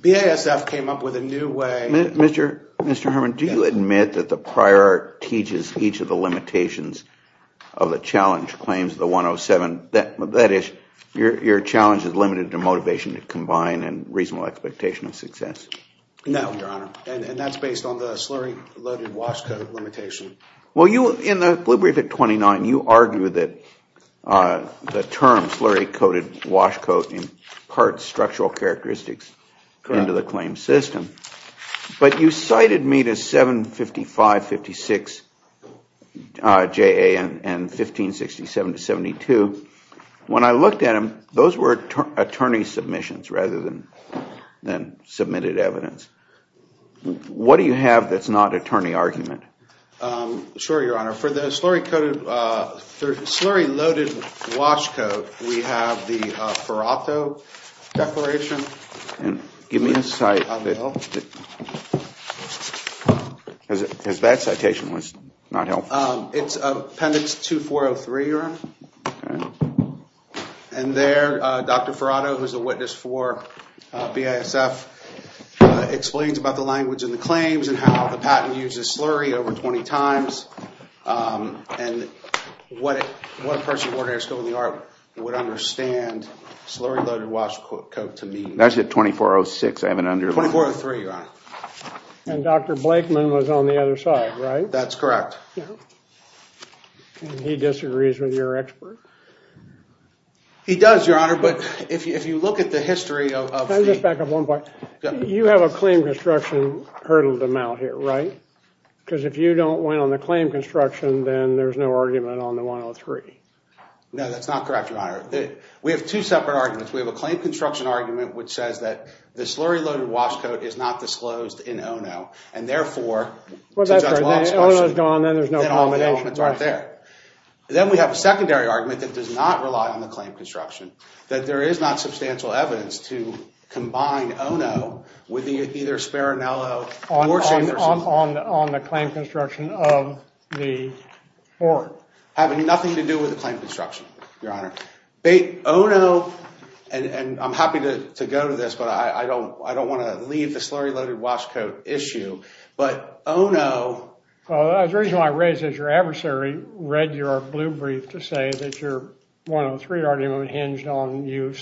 BASF came up with a new way of doing things. Mr. Herman, do you admit that the prior teaches each of the limitations of the challenge claims of the 107, that is, your challenge is limited to motivation to combine and reasonable expectation of success? No, Your Honor. And that's based on the slurry-loaded wash coat limitation. Well you, in the blue brief at 29, you argue that the term slurry-coated wash coat imparts structural characteristics into the claim system. But you cited me to 755-56 JA and 1567-72. When I looked at them, those were attorney submissions rather than submitted evidence. What do you have that's not attorney argument? Sure, Your Honor. For the slurry-loaded wash coat, we have the Ferrato Declaration. Give me a cite. Because that citation was not helpful. It's Appendix 2403, Your Honor. And there, Dr. Ferrato, who's a witness for BASF, explains about the language in the claims and how the patent uses slurry over 20 times, and what a person with an air school in the Army would understand slurry-loaded wash coat to mean. That's at 2406. I haven't underlined it. 2403, Your Honor. And Dr. Blakeman was on the other side, right? That's correct. And he disagrees with your expert? He does, Your Honor. But if you look at the history of the— Can I just back up one point? You have a claim construction hurdle to mount here, right? Because if you don't win on the claim construction, then there's no argument on the 103. No, that's not correct, Your Honor. We have two separate arguments. We have a claim construction argument which says that the slurry-loaded wash coat is not disclosed in ONO, and therefore— Well, that's right. Then ONO's gone, then there's no— Then all the elements aren't there. Then we have a secondary argument that does not rely on the claim construction, that there is not substantial evidence to combine ONO with either Sparinello or Chamberson— On the claim construction of the board. Having nothing to do with the claim construction, Your Honor. Bait, ONO— and I'm happy to go to this, but I don't want to leave the slurry-loaded wash coat issue. But ONO— Well, the reason why I raised it is your adversary read your blue brief to say that your 103 argument hinged on you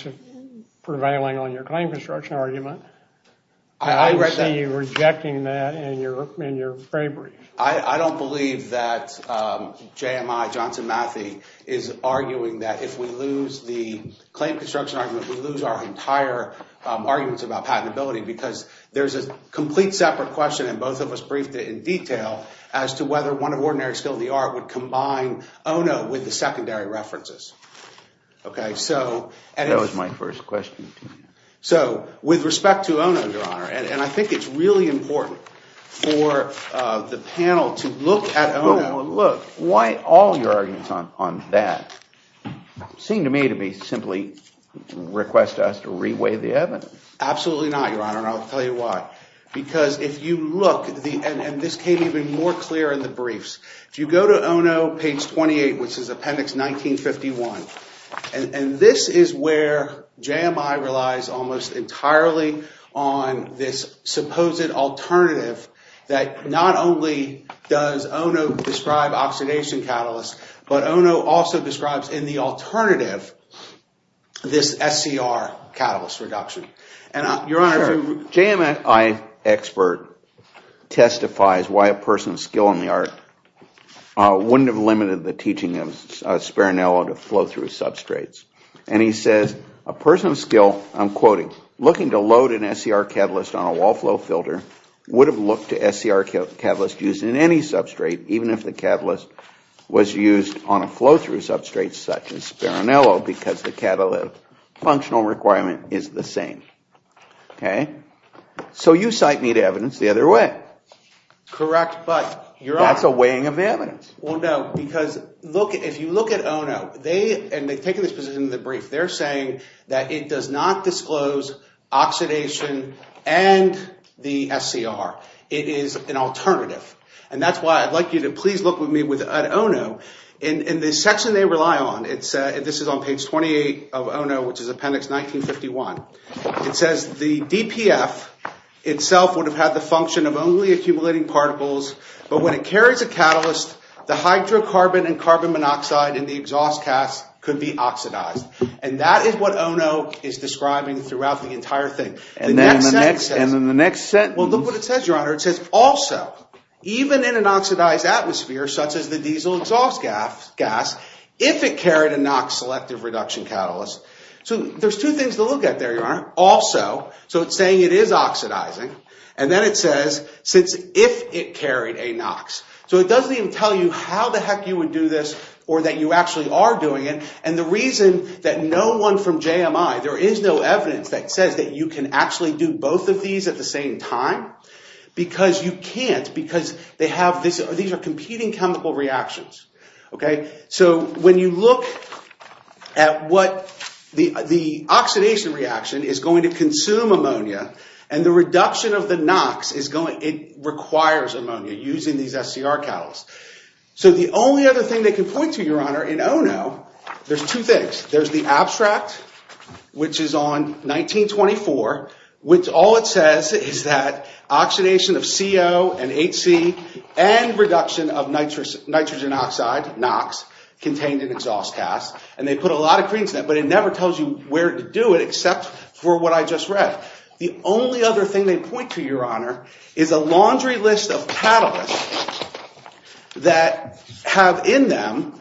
prevailing on your claim construction argument. I see you rejecting that in your gray brief. I don't believe that JMI, Johnson Matthey, is arguing that if we lose the claim construction argument, we lose our entire arguments about patentability, because there's a complete separate question, and both of us briefed it in detail, as to whether one of ordinary skill in the art would combine ONO with the secondary references. That was my first question to you. So with respect to ONO, Your Honor, and I think it's really important for the panel to look at— Well, look, why all your arguments on that seem to me to be simply to request us to re-weigh the evidence. Absolutely not, Your Honor, and I'll tell you why. Because if you look, and this came even more clear in the briefs, if you go to ONO, page 28, which is appendix 1951, and this is where JMI relies almost entirely on this supposed alternative that not only does ONO describe oxidation catalysts, but ONO also describes in the alternative this SCR catalyst reduction. And Your Honor— My expert testifies why a person of skill in the art wouldn't have limited the teaching of Speranello to flow-through substrates. And he says, a person of skill, I'm quoting, looking to load an SCR catalyst on a wall flow filter would have looked to SCR catalysts used in any substrate, even if the catalyst was used on a flow-through substrate such as Speranello, because the functional requirement is the same. Okay. So you cite neat evidence the other way. Correct, but Your Honor— That's a weighing of evidence. Well, no, because if you look at ONO, and they've taken this position in the brief, they're saying that it does not disclose oxidation and the SCR. It is an alternative. And that's why I'd like you to please look with me at ONO. In the section they rely on, this is on page 28 of ONO, which is appendix 1951, it says the DPF itself would have had the function of only accumulating particles, but when it carries a catalyst, the hydrocarbon and carbon monoxide in the exhaust gas could be oxidized. And that is what ONO is describing throughout the entire thing. And then the next sentence— And then the next sentence— Well, look what it says, Your Honor. It says, also, even in an oxidized atmosphere such as the diesel exhaust gas, if it carried a NOx-selective reduction catalyst— So there's two things to look at there, Your Honor. Also, so it's saying it is oxidizing. And then it says, since if it carried a NOx. So it doesn't even tell you how the heck you would do this or that you actually are doing it. And the reason that no one from JMI, there is no evidence that says that you can actually do both of these at the same time, because you can't. Because they have this, these are competing chemical reactions, okay? So when you look at what the oxidation reaction is going to consume ammonia, and the reduction of the NOx is going, it requires ammonia using these SCR catalysts. So the only other thing they can point to, Your Honor, in ONO, there's two things. There's the abstract, which is on 1924, which all it says is that oxidation of CO and HC and reduction of nitrogen oxide, NOx, contained in exhaust gas. And they put a lot of credence in that, but it never tells you where to do it except for what I just read. The only other thing they point to, Your Honor, is a laundry list of catalysts that have in them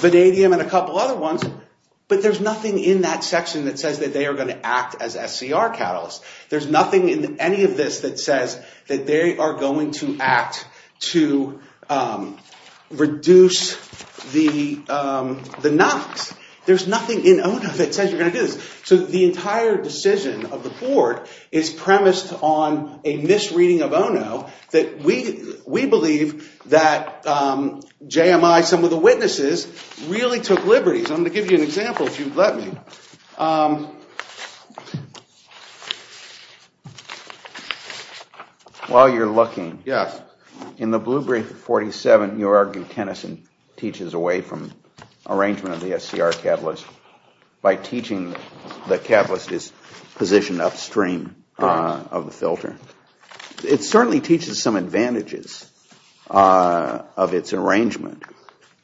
vanadium and a couple other ones, but there's nothing in that section that says that they are going to act as SCR catalysts. There's nothing in any of this that says that they are going to act to reduce the NOx. There's nothing in ONO that says you're going to do this. So the entire decision of the Court is premised on a misreading of ONO that we believe that JMI, some of the witnesses, really took liberties. I'm going to give you an example, if you'll let me. While you're looking, in the blue brief of 47, you argue Tennyson teaches away from arrangement of the SCR catalyst by teaching the catalyst is positioned upstream of the filter. It certainly teaches some advantages of its arrangement,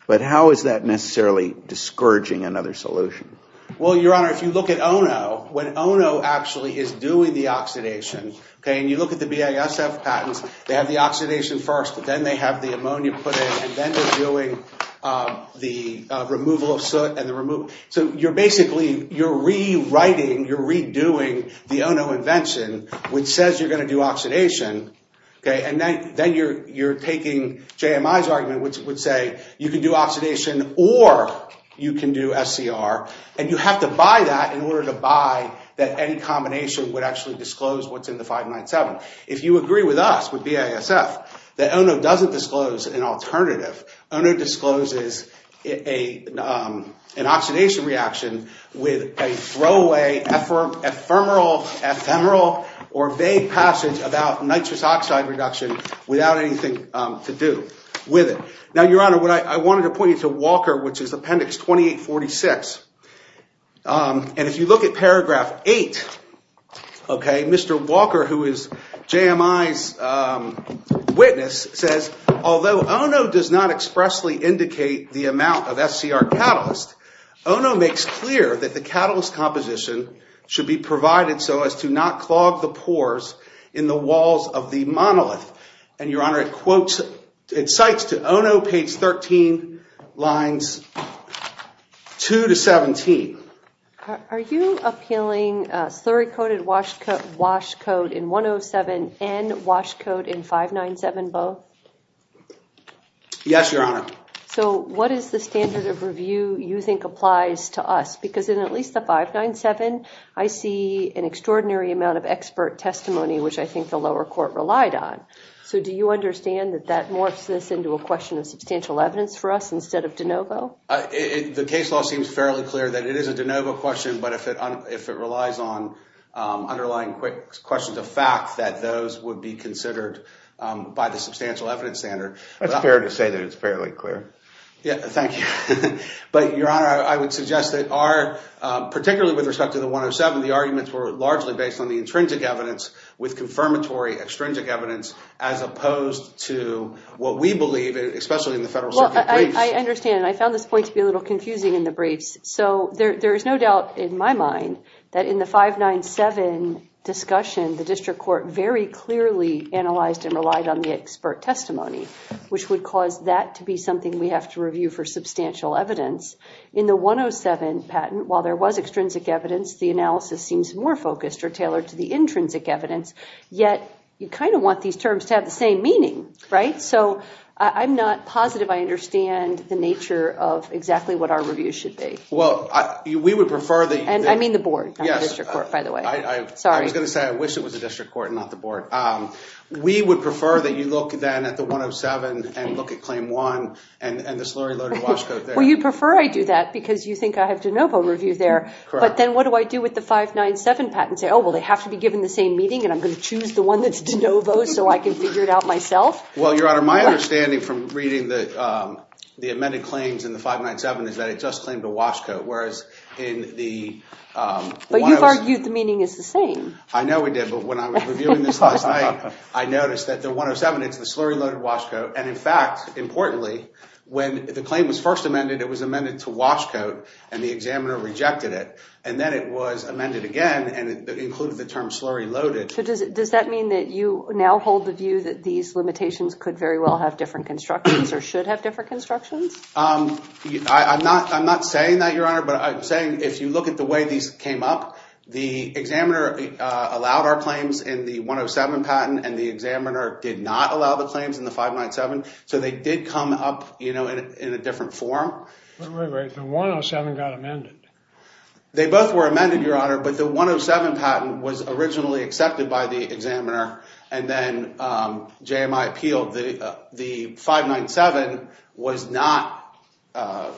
but how is that necessarily discouraging another solution? Well, Your Honor, if you look at ONO, when ONO actually is doing the arrangement, and you look at the BASF patents, they have the oxidation first, but then they have the ammonia put in, and then they're doing the removal of soot. So you're basically rewriting, you're redoing the ONO invention, which says you're going to do oxidation, and then you're taking JMI's argument, which would say you can do oxidation or you can do SCR, and you have to buy that in order to buy that any combination would actually disclose what's in the 597. If you agree with us, with BASF, that ONO doesn't disclose an alternative, ONO discloses an oxidation reaction with a throwaway ephemeral or vague passage about nitrous oxide reduction without anything to do with it. Now, Your Honor, I wanted to point you to Walker, which is Appendix 2846, and if you look at Paragraph 8, Mr. Walker, who is JMI's witness, says, although ONO does not expressly indicate the amount of SCR catalyst, ONO makes clear that the catalyst composition should be provided so as to not clog the pores in the walls of the monolith. And, Your Honor, it quotes, it cites to ONO, page 13, lines 2 to 17. Are you appealing slurry-coated wash coat in 107 and wash coat in 597 both? Yes, Your Honor. So what is the standard of review you think applies to us? Because in at least the 597, I see an extraordinary amount of expert testimony, which I think the lower court relied on. So do you understand that that morphs this into a question of substantial evidence for us instead of de novo? The case law seems fairly clear that it is a de novo question, but if it relies on underlying questions of fact, that those would be considered by the substantial evidence standard. It's fair to say that it's fairly clear. Yeah, thank you. But, Your Honor, I would suggest that our, particularly with respect to the 107, the arguments were largely based on the intrinsic evidence with confirmatory extrinsic evidence I understand. I found this point to be a little confusing in the briefs. So there is no doubt in my mind that in the 597 discussion, the district court very clearly analyzed and relied on the expert testimony, which would cause that to be something we have to review for substantial evidence. In the 107 patent, while there was extrinsic evidence, the analysis seems more focused or tailored to the intrinsic evidence, yet you kind of want these terms to have the same meaning, right? I'm not positive I understand the nature of exactly what our review should be. Well, we would prefer that you... And I mean the board, not the district court, by the way. Yes, I was going to say I wish it was the district court, not the board. We would prefer that you look then at the 107 and look at Claim 1 and the slurry-loaded wash code there. Well, you'd prefer I do that because you think I have de novo review there, but then what do I do with the 597 patent? Say, oh, well, they have to be given the same meeting and I'm going to choose the one that's de novo so I can figure it out myself? Well, Your Honor, my understanding from reading the amended claims in the 597 is that it just claimed a wash code, whereas in the... But you've argued the meaning is the same. I know we did, but when I was reviewing this last night, I noticed that the 107, it's the slurry-loaded wash code, and in fact, importantly, when the claim was first amended, it was amended to wash code and the examiner rejected it, and then it was amended again and it included the term slurry-loaded. Does that mean that you now hold the view that these limitations could very well have different constructions or should have different constructions? I'm not saying that, Your Honor, but I'm saying if you look at the way these came up, the examiner allowed our claims in the 107 patent and the examiner did not allow the claims in the 597, so they did come up in a different form. The 107 got amended. They both were amended, Your Honor, but the 107 patent was originally accepted by the examiner and then JMI appealed. The 597 was not... I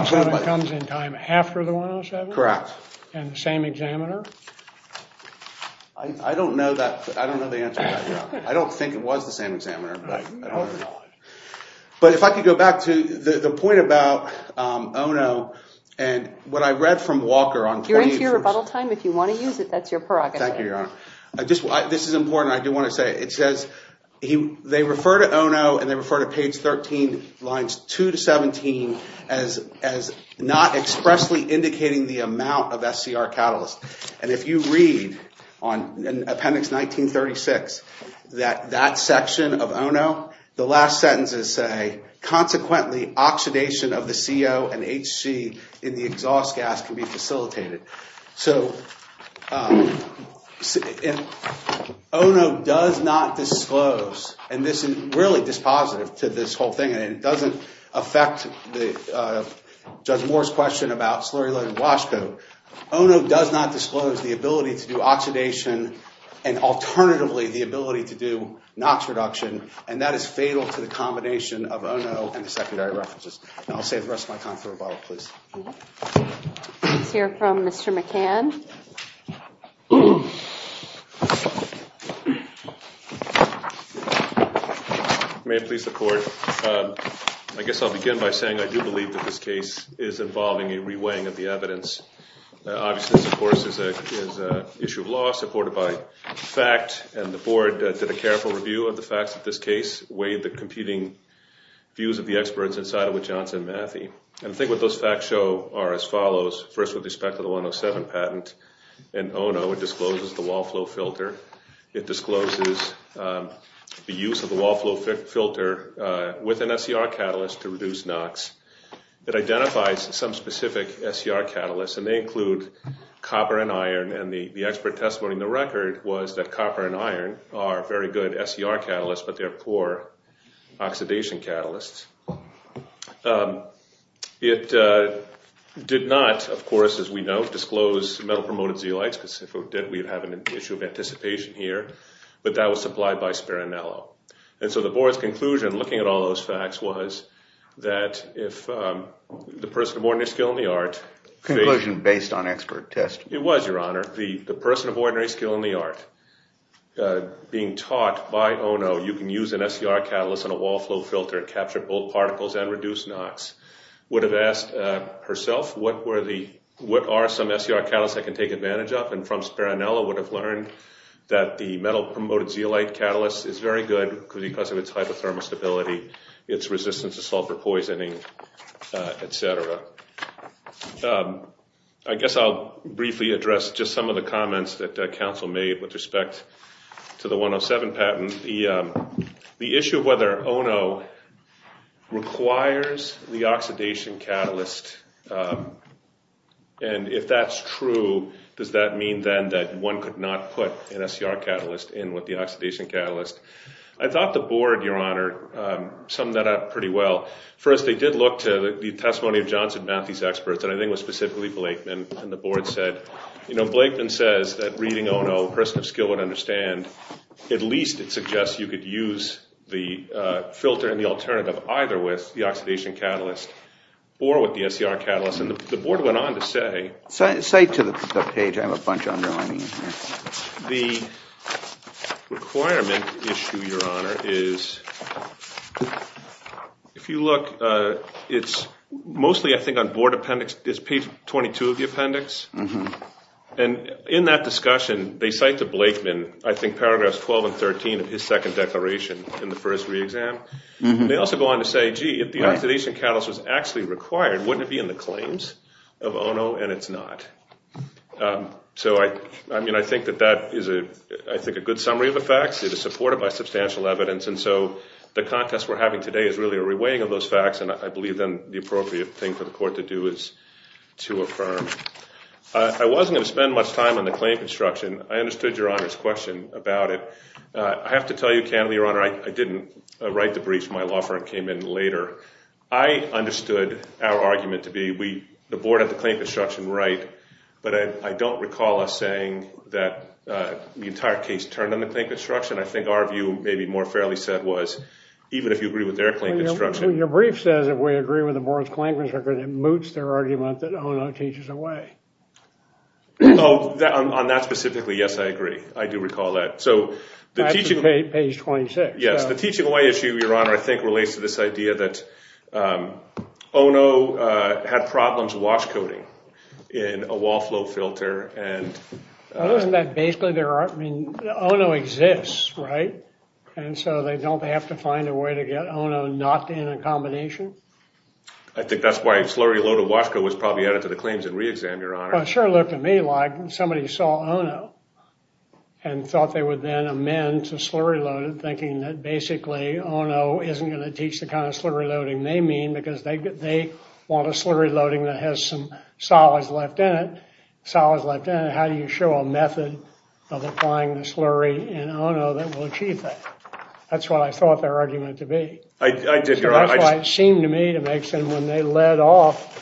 assume it comes in time after the 107? Correct. And the same examiner? I don't know the answer to that, Your Honor. I don't think it was the same examiner. I don't know the answer. But if I could go back to the point about ONO and what I read from Walker on page... You're into your rebuttal time. If you want to use it, that's your prerogative. Thank you, Your Honor. This is important. I do want to say it says they refer to ONO and they refer to page 13 lines 2 to 17 as not expressly indicating the amount of SCR catalyst. If you read Appendix 1936, that section of ONO, the last sentences say, consequently, oxidation of the CO and HC in the exhaust gas can be facilitated. ONO does not disclose, and this is really dispositive to this whole thing, and it doesn't affect Judge Moore's question about slurry-laden washcoat. ONO does not disclose the ability to do oxidation and, alternatively, the ability to do NOx reduction, and that is fatal to the combination of ONO and the secondary references. And I'll save the rest of my time for rebuttal, please. Let's hear from Mr. McCann. May it please the Court. I guess I'll begin by saying I do believe that this case is involving a reweighing of evidence. Obviously, this, of course, is an issue of law supported by fact, and the Board did a careful review of the facts of this case, weighed the competing views of the experts inside it with Johnson and Mathey. And I think what those facts show are as follows. First, with respect to the 107 patent in ONO, it discloses the wall flow filter. It discloses the use of the wall flow filter with an SCR catalyst to reduce NOx. It identifies some specific SCR catalysts, and they include copper and iron, and the expert testimony in the record was that copper and iron are very good SCR catalysts, but they're poor oxidation catalysts. It did not, of course, as we know, disclose metal-promoted zeolites, because if it did, we'd have an issue of anticipation here, but that was supplied by Speranello. And so the Board's conclusion, looking at all those facts, was that if the person of ordinary skill in the art— Conclusion based on expert testimony. It was, Your Honor. The person of ordinary skill in the art, being taught by ONO you can use an SCR catalyst on a wall flow filter and capture both particles and reduce NOx, would have asked herself, what are some SCR catalysts I can take advantage of? And from Speranello, would have learned that the metal-promoted zeolite catalyst is very good because of its hypothermal stability, its resistance to sulfur poisoning, et cetera. I guess I'll briefly address just some of the comments that Council made with respect to the 107 patent. The issue of whether ONO requires the oxidation catalyst, and if that's true, does that mean then that one could not put an SCR catalyst in with the oxidation catalyst? I thought the Board, Your Honor, summed that up pretty well. First, they did look to the testimony of Johnson Matthey's experts, and I think it was specifically Blakeman. And the Board said, you know, Blakeman says that reading ONO, a person of skill would understand, at least it suggests you could use the filter and the alternative either with the oxidation catalyst or with the SCR catalyst. The Board went on to say, the requirement issue, Your Honor, is if you look, it's mostly I think on Board appendix, it's page 22 of the appendix. And in that discussion, they cite the Blakeman, I think paragraphs 12 and 13 of his second declaration in the first re-exam. They also go on to say, gee, if the oxidation catalyst was actually required, wouldn't it be in the claims of ONO? And it's not. So I mean, I think that that is, I think, a good summary of the facts. It is supported by substantial evidence. And so the contest we're having today is really a re-weighing of those facts, and I believe then the appropriate thing for the Court to do is to affirm. I wasn't going to spend much time on the claim construction. I understood Your Honor's question about it. I have to tell you candidly, Your Honor, I didn't write the briefs. My law firm came in later. I understood our argument to be the Board had the claim construction right, but I don't recall us saying that the entire case turned on the claim construction. I think our view, maybe more fairly said, was even if you agree with their claim construction. Your brief says if we agree with the Board's claim construction, it moots their argument that ONO teaches away. Oh, on that specifically, yes, I agree. I do recall that. So the teaching— That's page 26. Yes, the teaching away issue, Your Honor, I think relates to this idea that ONO had problems washcoating in a wall flow filter and— Well, isn't that basically their art? I mean, ONO exists, right? And so they don't have to find a way to get ONO not in a combination? I think that's why a slurry-loaded washcoat was probably added to the claims and re-exam, Your Honor. Well, it sure looked to me like somebody saw ONO and thought they would then amend to slurry loaded, thinking that basically ONO isn't going to teach the kind of slurry loading they mean because they want a slurry loading that has some solids left in it. Solids left in it, how do you show a method of applying the slurry in ONO that will achieve that? That's what I thought their argument to be. I did, Your Honor. That's why it seemed to me to make sense when they led off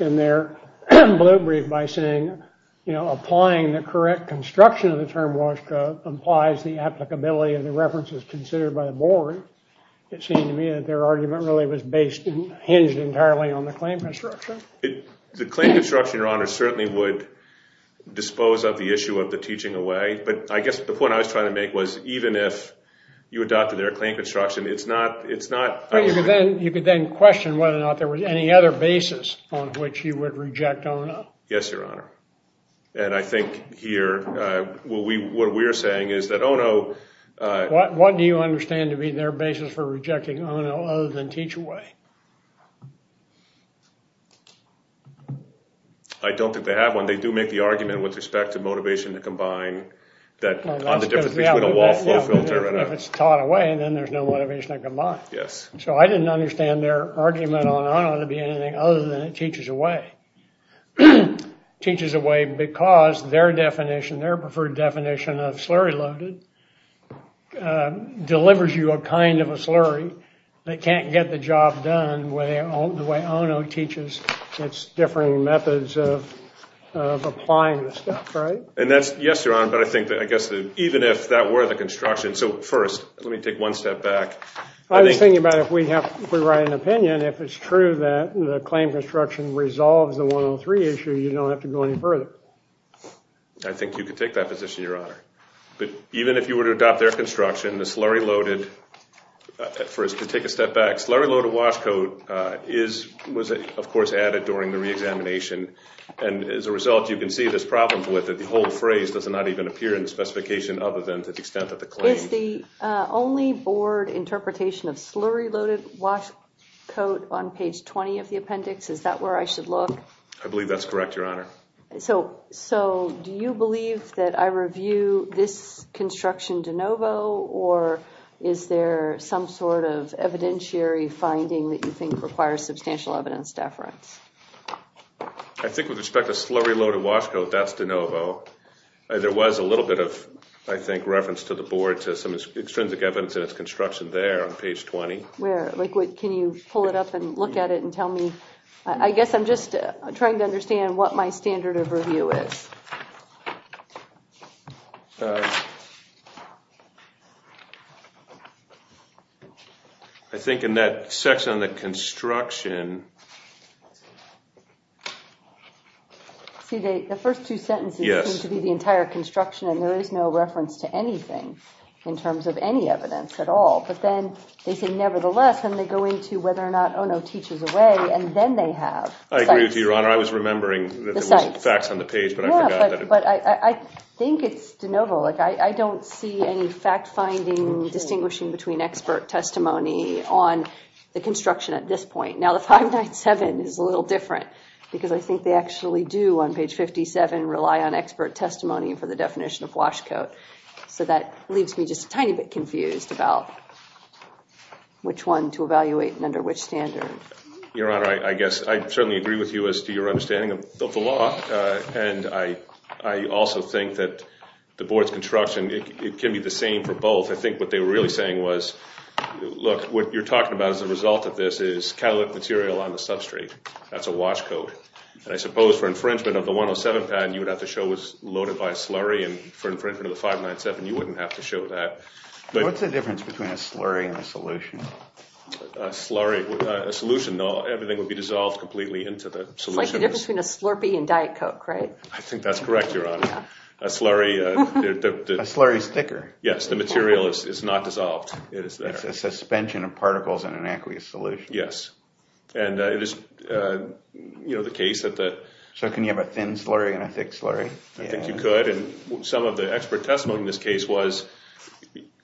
in their blue brief by saying, you know, applying the correct construction of the term washcoat implies the applicability of the references considered by the board. It seemed to me that their argument really was based and hinged entirely on the claim construction. The claim construction, Your Honor, certainly would dispose of the issue of the teaching away. But I guess the point I was trying to make was even if you adopted their claim construction, it's not, it's not... You could then question whether or not there was any other basis on which you would reject ONO. Yes, Your Honor. And I think here what we're saying is that ONO... What do you understand to be their basis for rejecting ONO other than teach away? I don't think they have one. They do make the argument with respect to motivation to combine that on the difference between a wall flow filter and a... If it's taught away, then there's no motivation to combine. Yes. So I didn't understand their argument on ONO to be anything other than it teaches away. It teaches away because their definition, their preferred definition of slurry loaded delivers you a kind of a slurry. They can't get the job done the way ONO teaches. It's different methods of applying the stuff, right? And that's... Yes, Your Honor. But I think that I guess that even if that were the construction... So first, let me take one step back. I was thinking about if we have... And if it's true that the claim construction resolves the 103 issue, you don't have to go any further. I think you could take that position, Your Honor. But even if you were to adopt their construction, the slurry loaded... First, to take a step back, slurry loaded wash coat was, of course, added during the re-examination. And as a result, you can see this problem with it. The whole phrase does not even appear in the specification other than to the extent that the claim... Is the only board interpretation of slurry loaded wash coat on page 20 of the appendix? Is that where I should look? I believe that's correct, Your Honor. So do you believe that I review this construction de novo? Or is there some sort of evidentiary finding that you think requires substantial evidence deference? I think with respect to slurry loaded wash coat, that's de novo. There was a little bit of, I think, reference to the board to some extrinsic evidence in its construction there on page 20. Where? Can you pull it up and look at it and tell me? I guess I'm just trying to understand what my standard of review is. I think in that section on the construction... See, the first two sentences seem to be the entire construction, and there is no reference to anything in terms of any evidence at all. But then they say, nevertheless, and they go into whether or not, oh no, teaches away, and then they have... I agree with you, Your Honor. I was remembering that there was facts on the page, but I forgot that it... Yeah, but I think it's de novo. Like, I don't see any fact-finding, distinguishing between expert testimony on the construction at this point. Now, the 597 is a little different, because I think they actually do, on page 57, rely on expert testimony for the definition of wash coat. So that leaves me just a tiny bit confused about which one to evaluate and under which standard. Your Honor, I guess I certainly agree with you as to your understanding of the law, and I also think that the board's construction, it can be the same for both. I think what they were really saying was, look, what you're talking about as a result of this is catalytic material on the substrate. That's a wash coat. And I suppose for infringement of the 107 patent, you would have to show it was loaded by a slurry, and for infringement of the 597, you wouldn't have to show that. What's the difference between a slurry and a solution? A slurry... A solution, though, everything would be dissolved completely into the solution. It's like the difference between a Slurpee and Diet Coke, right? I think that's correct, Your Honor. A slurry... A slurry's thicker. Yes, the material is not dissolved. It is there. A suspension of particles in an aqueous solution. Yes, and it is the case that the... So can you have a thin slurry and a thick slurry? I think you could, and some of the expert testimony in this case was,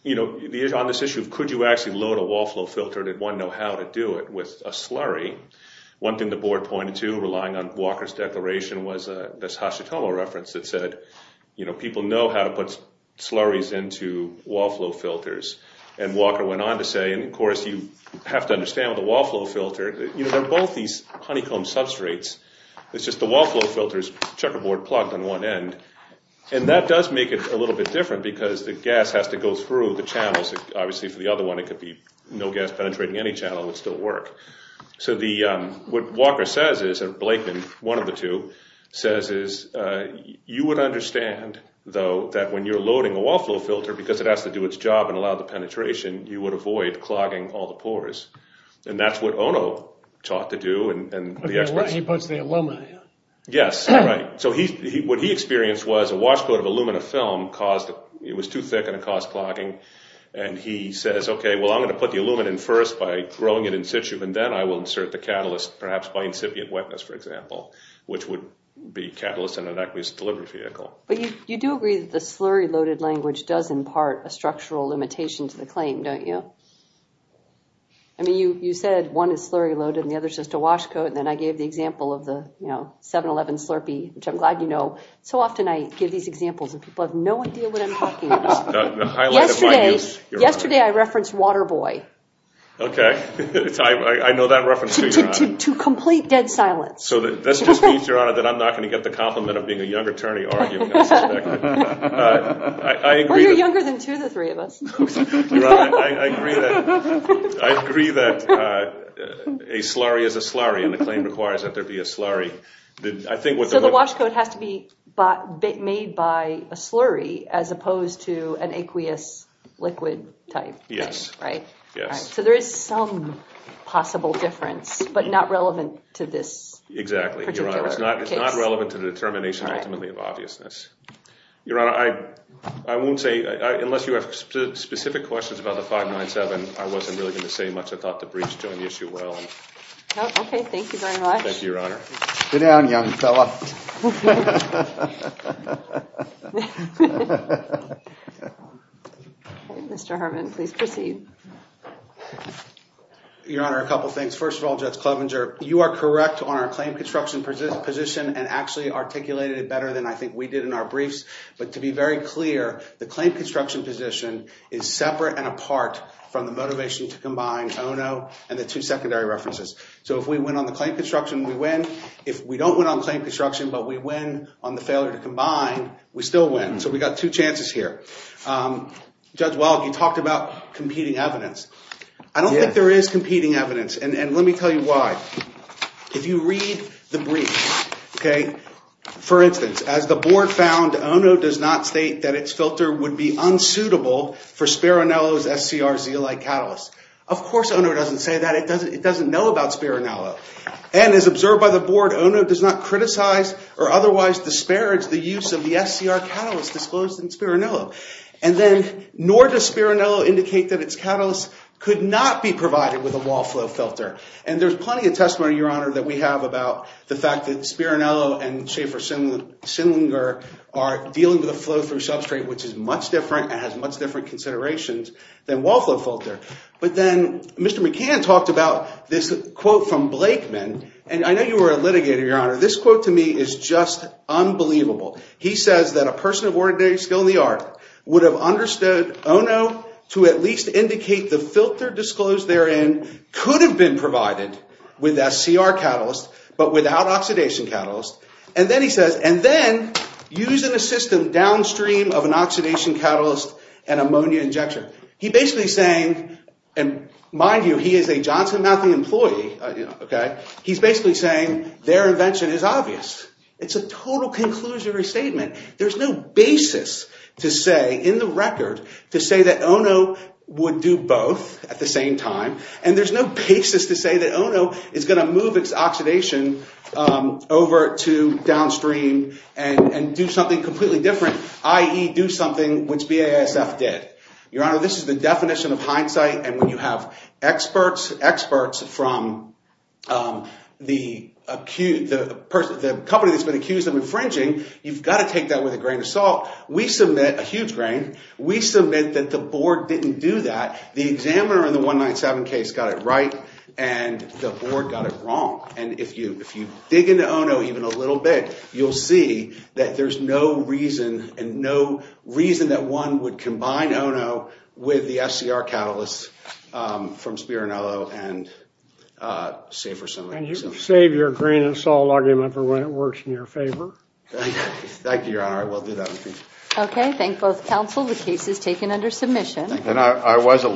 on this issue of could you actually load a wall flow filter, did one know how to do it with a slurry? One thing the board pointed to, relying on Walker's declaration, was this Hashitomo reference that said, people know how to put slurries into wall flow filters. And Walker went on to say, and of course, you have to understand with a wall flow filter, you know, they're both these honeycomb substrates. It's just the wall flow filter's checkerboard plugged on one end. And that does make it a little bit different because the gas has to go through the channels. Obviously, for the other one, it could be no gas penetrating any channel. It would still work. So what Walker says is, or Blakeman, one of the two, says is, you would understand, though, that when you're loading a wall flow filter, because it has to do its job and allow the penetration, you would avoid clogging all the pores. And that's what Ono taught to do. He puts the alumina in. Yes, right. So what he experienced was a wash coat of alumina film caused, it was too thick and it caused clogging. And he says, OK, well, I'm going to put the alumina in first by growing it in situ. And then I will insert the catalyst, perhaps by incipient wetness, for example, which would be catalyst in an aqueous delivery vehicle. But you do agree that the slurry-loaded language does impart a structural limitation to the claim, don't you? I mean, you said one is slurry-loaded and the other is just a wash coat. And then I gave the example of the 7-Eleven slurpee, which I'm glad you know. So often, I give these examples and people have no idea what I'm talking about. The highlight of my news, Your Honor. Yesterday, I referenced Waterboy. OK, I know that reference, too, Your Honor. To complete dead silence. So this just means, Your Honor, that I'm not going to get the compliment of being a young attorney arguing unsuspecting. Well, you're younger than two of the three of us. I agree that a slurry is a slurry. And the claim requires that there be a slurry. So the wash coat has to be made by a slurry as opposed to an aqueous liquid type. Yes. Right? Yes. So there is some possible difference, but not relevant to this particular case. Not relevant to the determination, ultimately, of obviousness. Your Honor, I won't say, unless you have specific questions about the 597, I wasn't really going to say much. I thought the briefs joined the issue well. OK, thank you very much. Thank you, Your Honor. Sit down, young fella. Mr. Harmon, please proceed. Your Honor, a couple of things. First of all, Judge Klovenger, you are correct on our claim construction position. And actually articulated it better than I think we did in our briefs. But to be very clear, the claim construction position is separate and apart from the motivation to combine ONO and the two secondary references. So if we win on the claim construction, we win. If we don't win on claim construction, but we win on the failure to combine, we still win. So we've got two chances here. Judge Welk, you talked about competing evidence. I don't think there is competing evidence. And let me tell you why. If you read the brief, for instance, as the board found, ONO does not state that its filter would be unsuitable for Spirinello's SCRZ-like catalyst. Of course, ONO doesn't say that. It doesn't know about Spirinello. And as observed by the board, ONO does not criticize or otherwise disparage the use of the SCR catalyst disclosed in Spirinello. And then, nor does Spirinello indicate that its catalyst could not be provided with a wall flow filter. And there's plenty of testimony, Your Honor, that we have about the fact that Spirinello and Schaefer-Sinlinger are dealing with a flow-through substrate which is much different and has much different considerations than wall flow filter. But then, Mr. McCann talked about this quote from Blakeman. And I know you were a litigator, Your Honor. This quote to me is just unbelievable. He says that a person of ordinary skill in the art would have understood ONO to at least indicate the filter disclosed therein could have been provided with that SCR catalyst, but without oxidation catalyst. And then he says, and then using a system downstream of an oxidation catalyst and ammonia injection. He's basically saying, and mind you, he is a Johnson Matthew employee. He's basically saying their invention is obvious. It's a total conclusionary statement. There's no basis to say, in the record, to say that ONO would do both at the same time. And there's no basis to say that ONO is going to move its oxidation over to downstream and do something completely different, i.e. do something which BASF did. Your Honor, this is the definition of hindsight. And when you have experts, experts from the company that's been accused of infringing, you've got to take that with a grain of salt. We submit a huge grain. We submit that the board didn't do that. The examiner in the 197 case got it right. And the board got it wrong. And if you dig into ONO even a little bit, you'll see that there's no reason and no reason that one would combine ONO with the SCR catalyst from Spirinello and Safer Summit. You can save your grain of salt argument for when it works in your favor. Thank you, Your Honor. I will do that. Okay. Thank both counsel. The case is taken under submission. And I was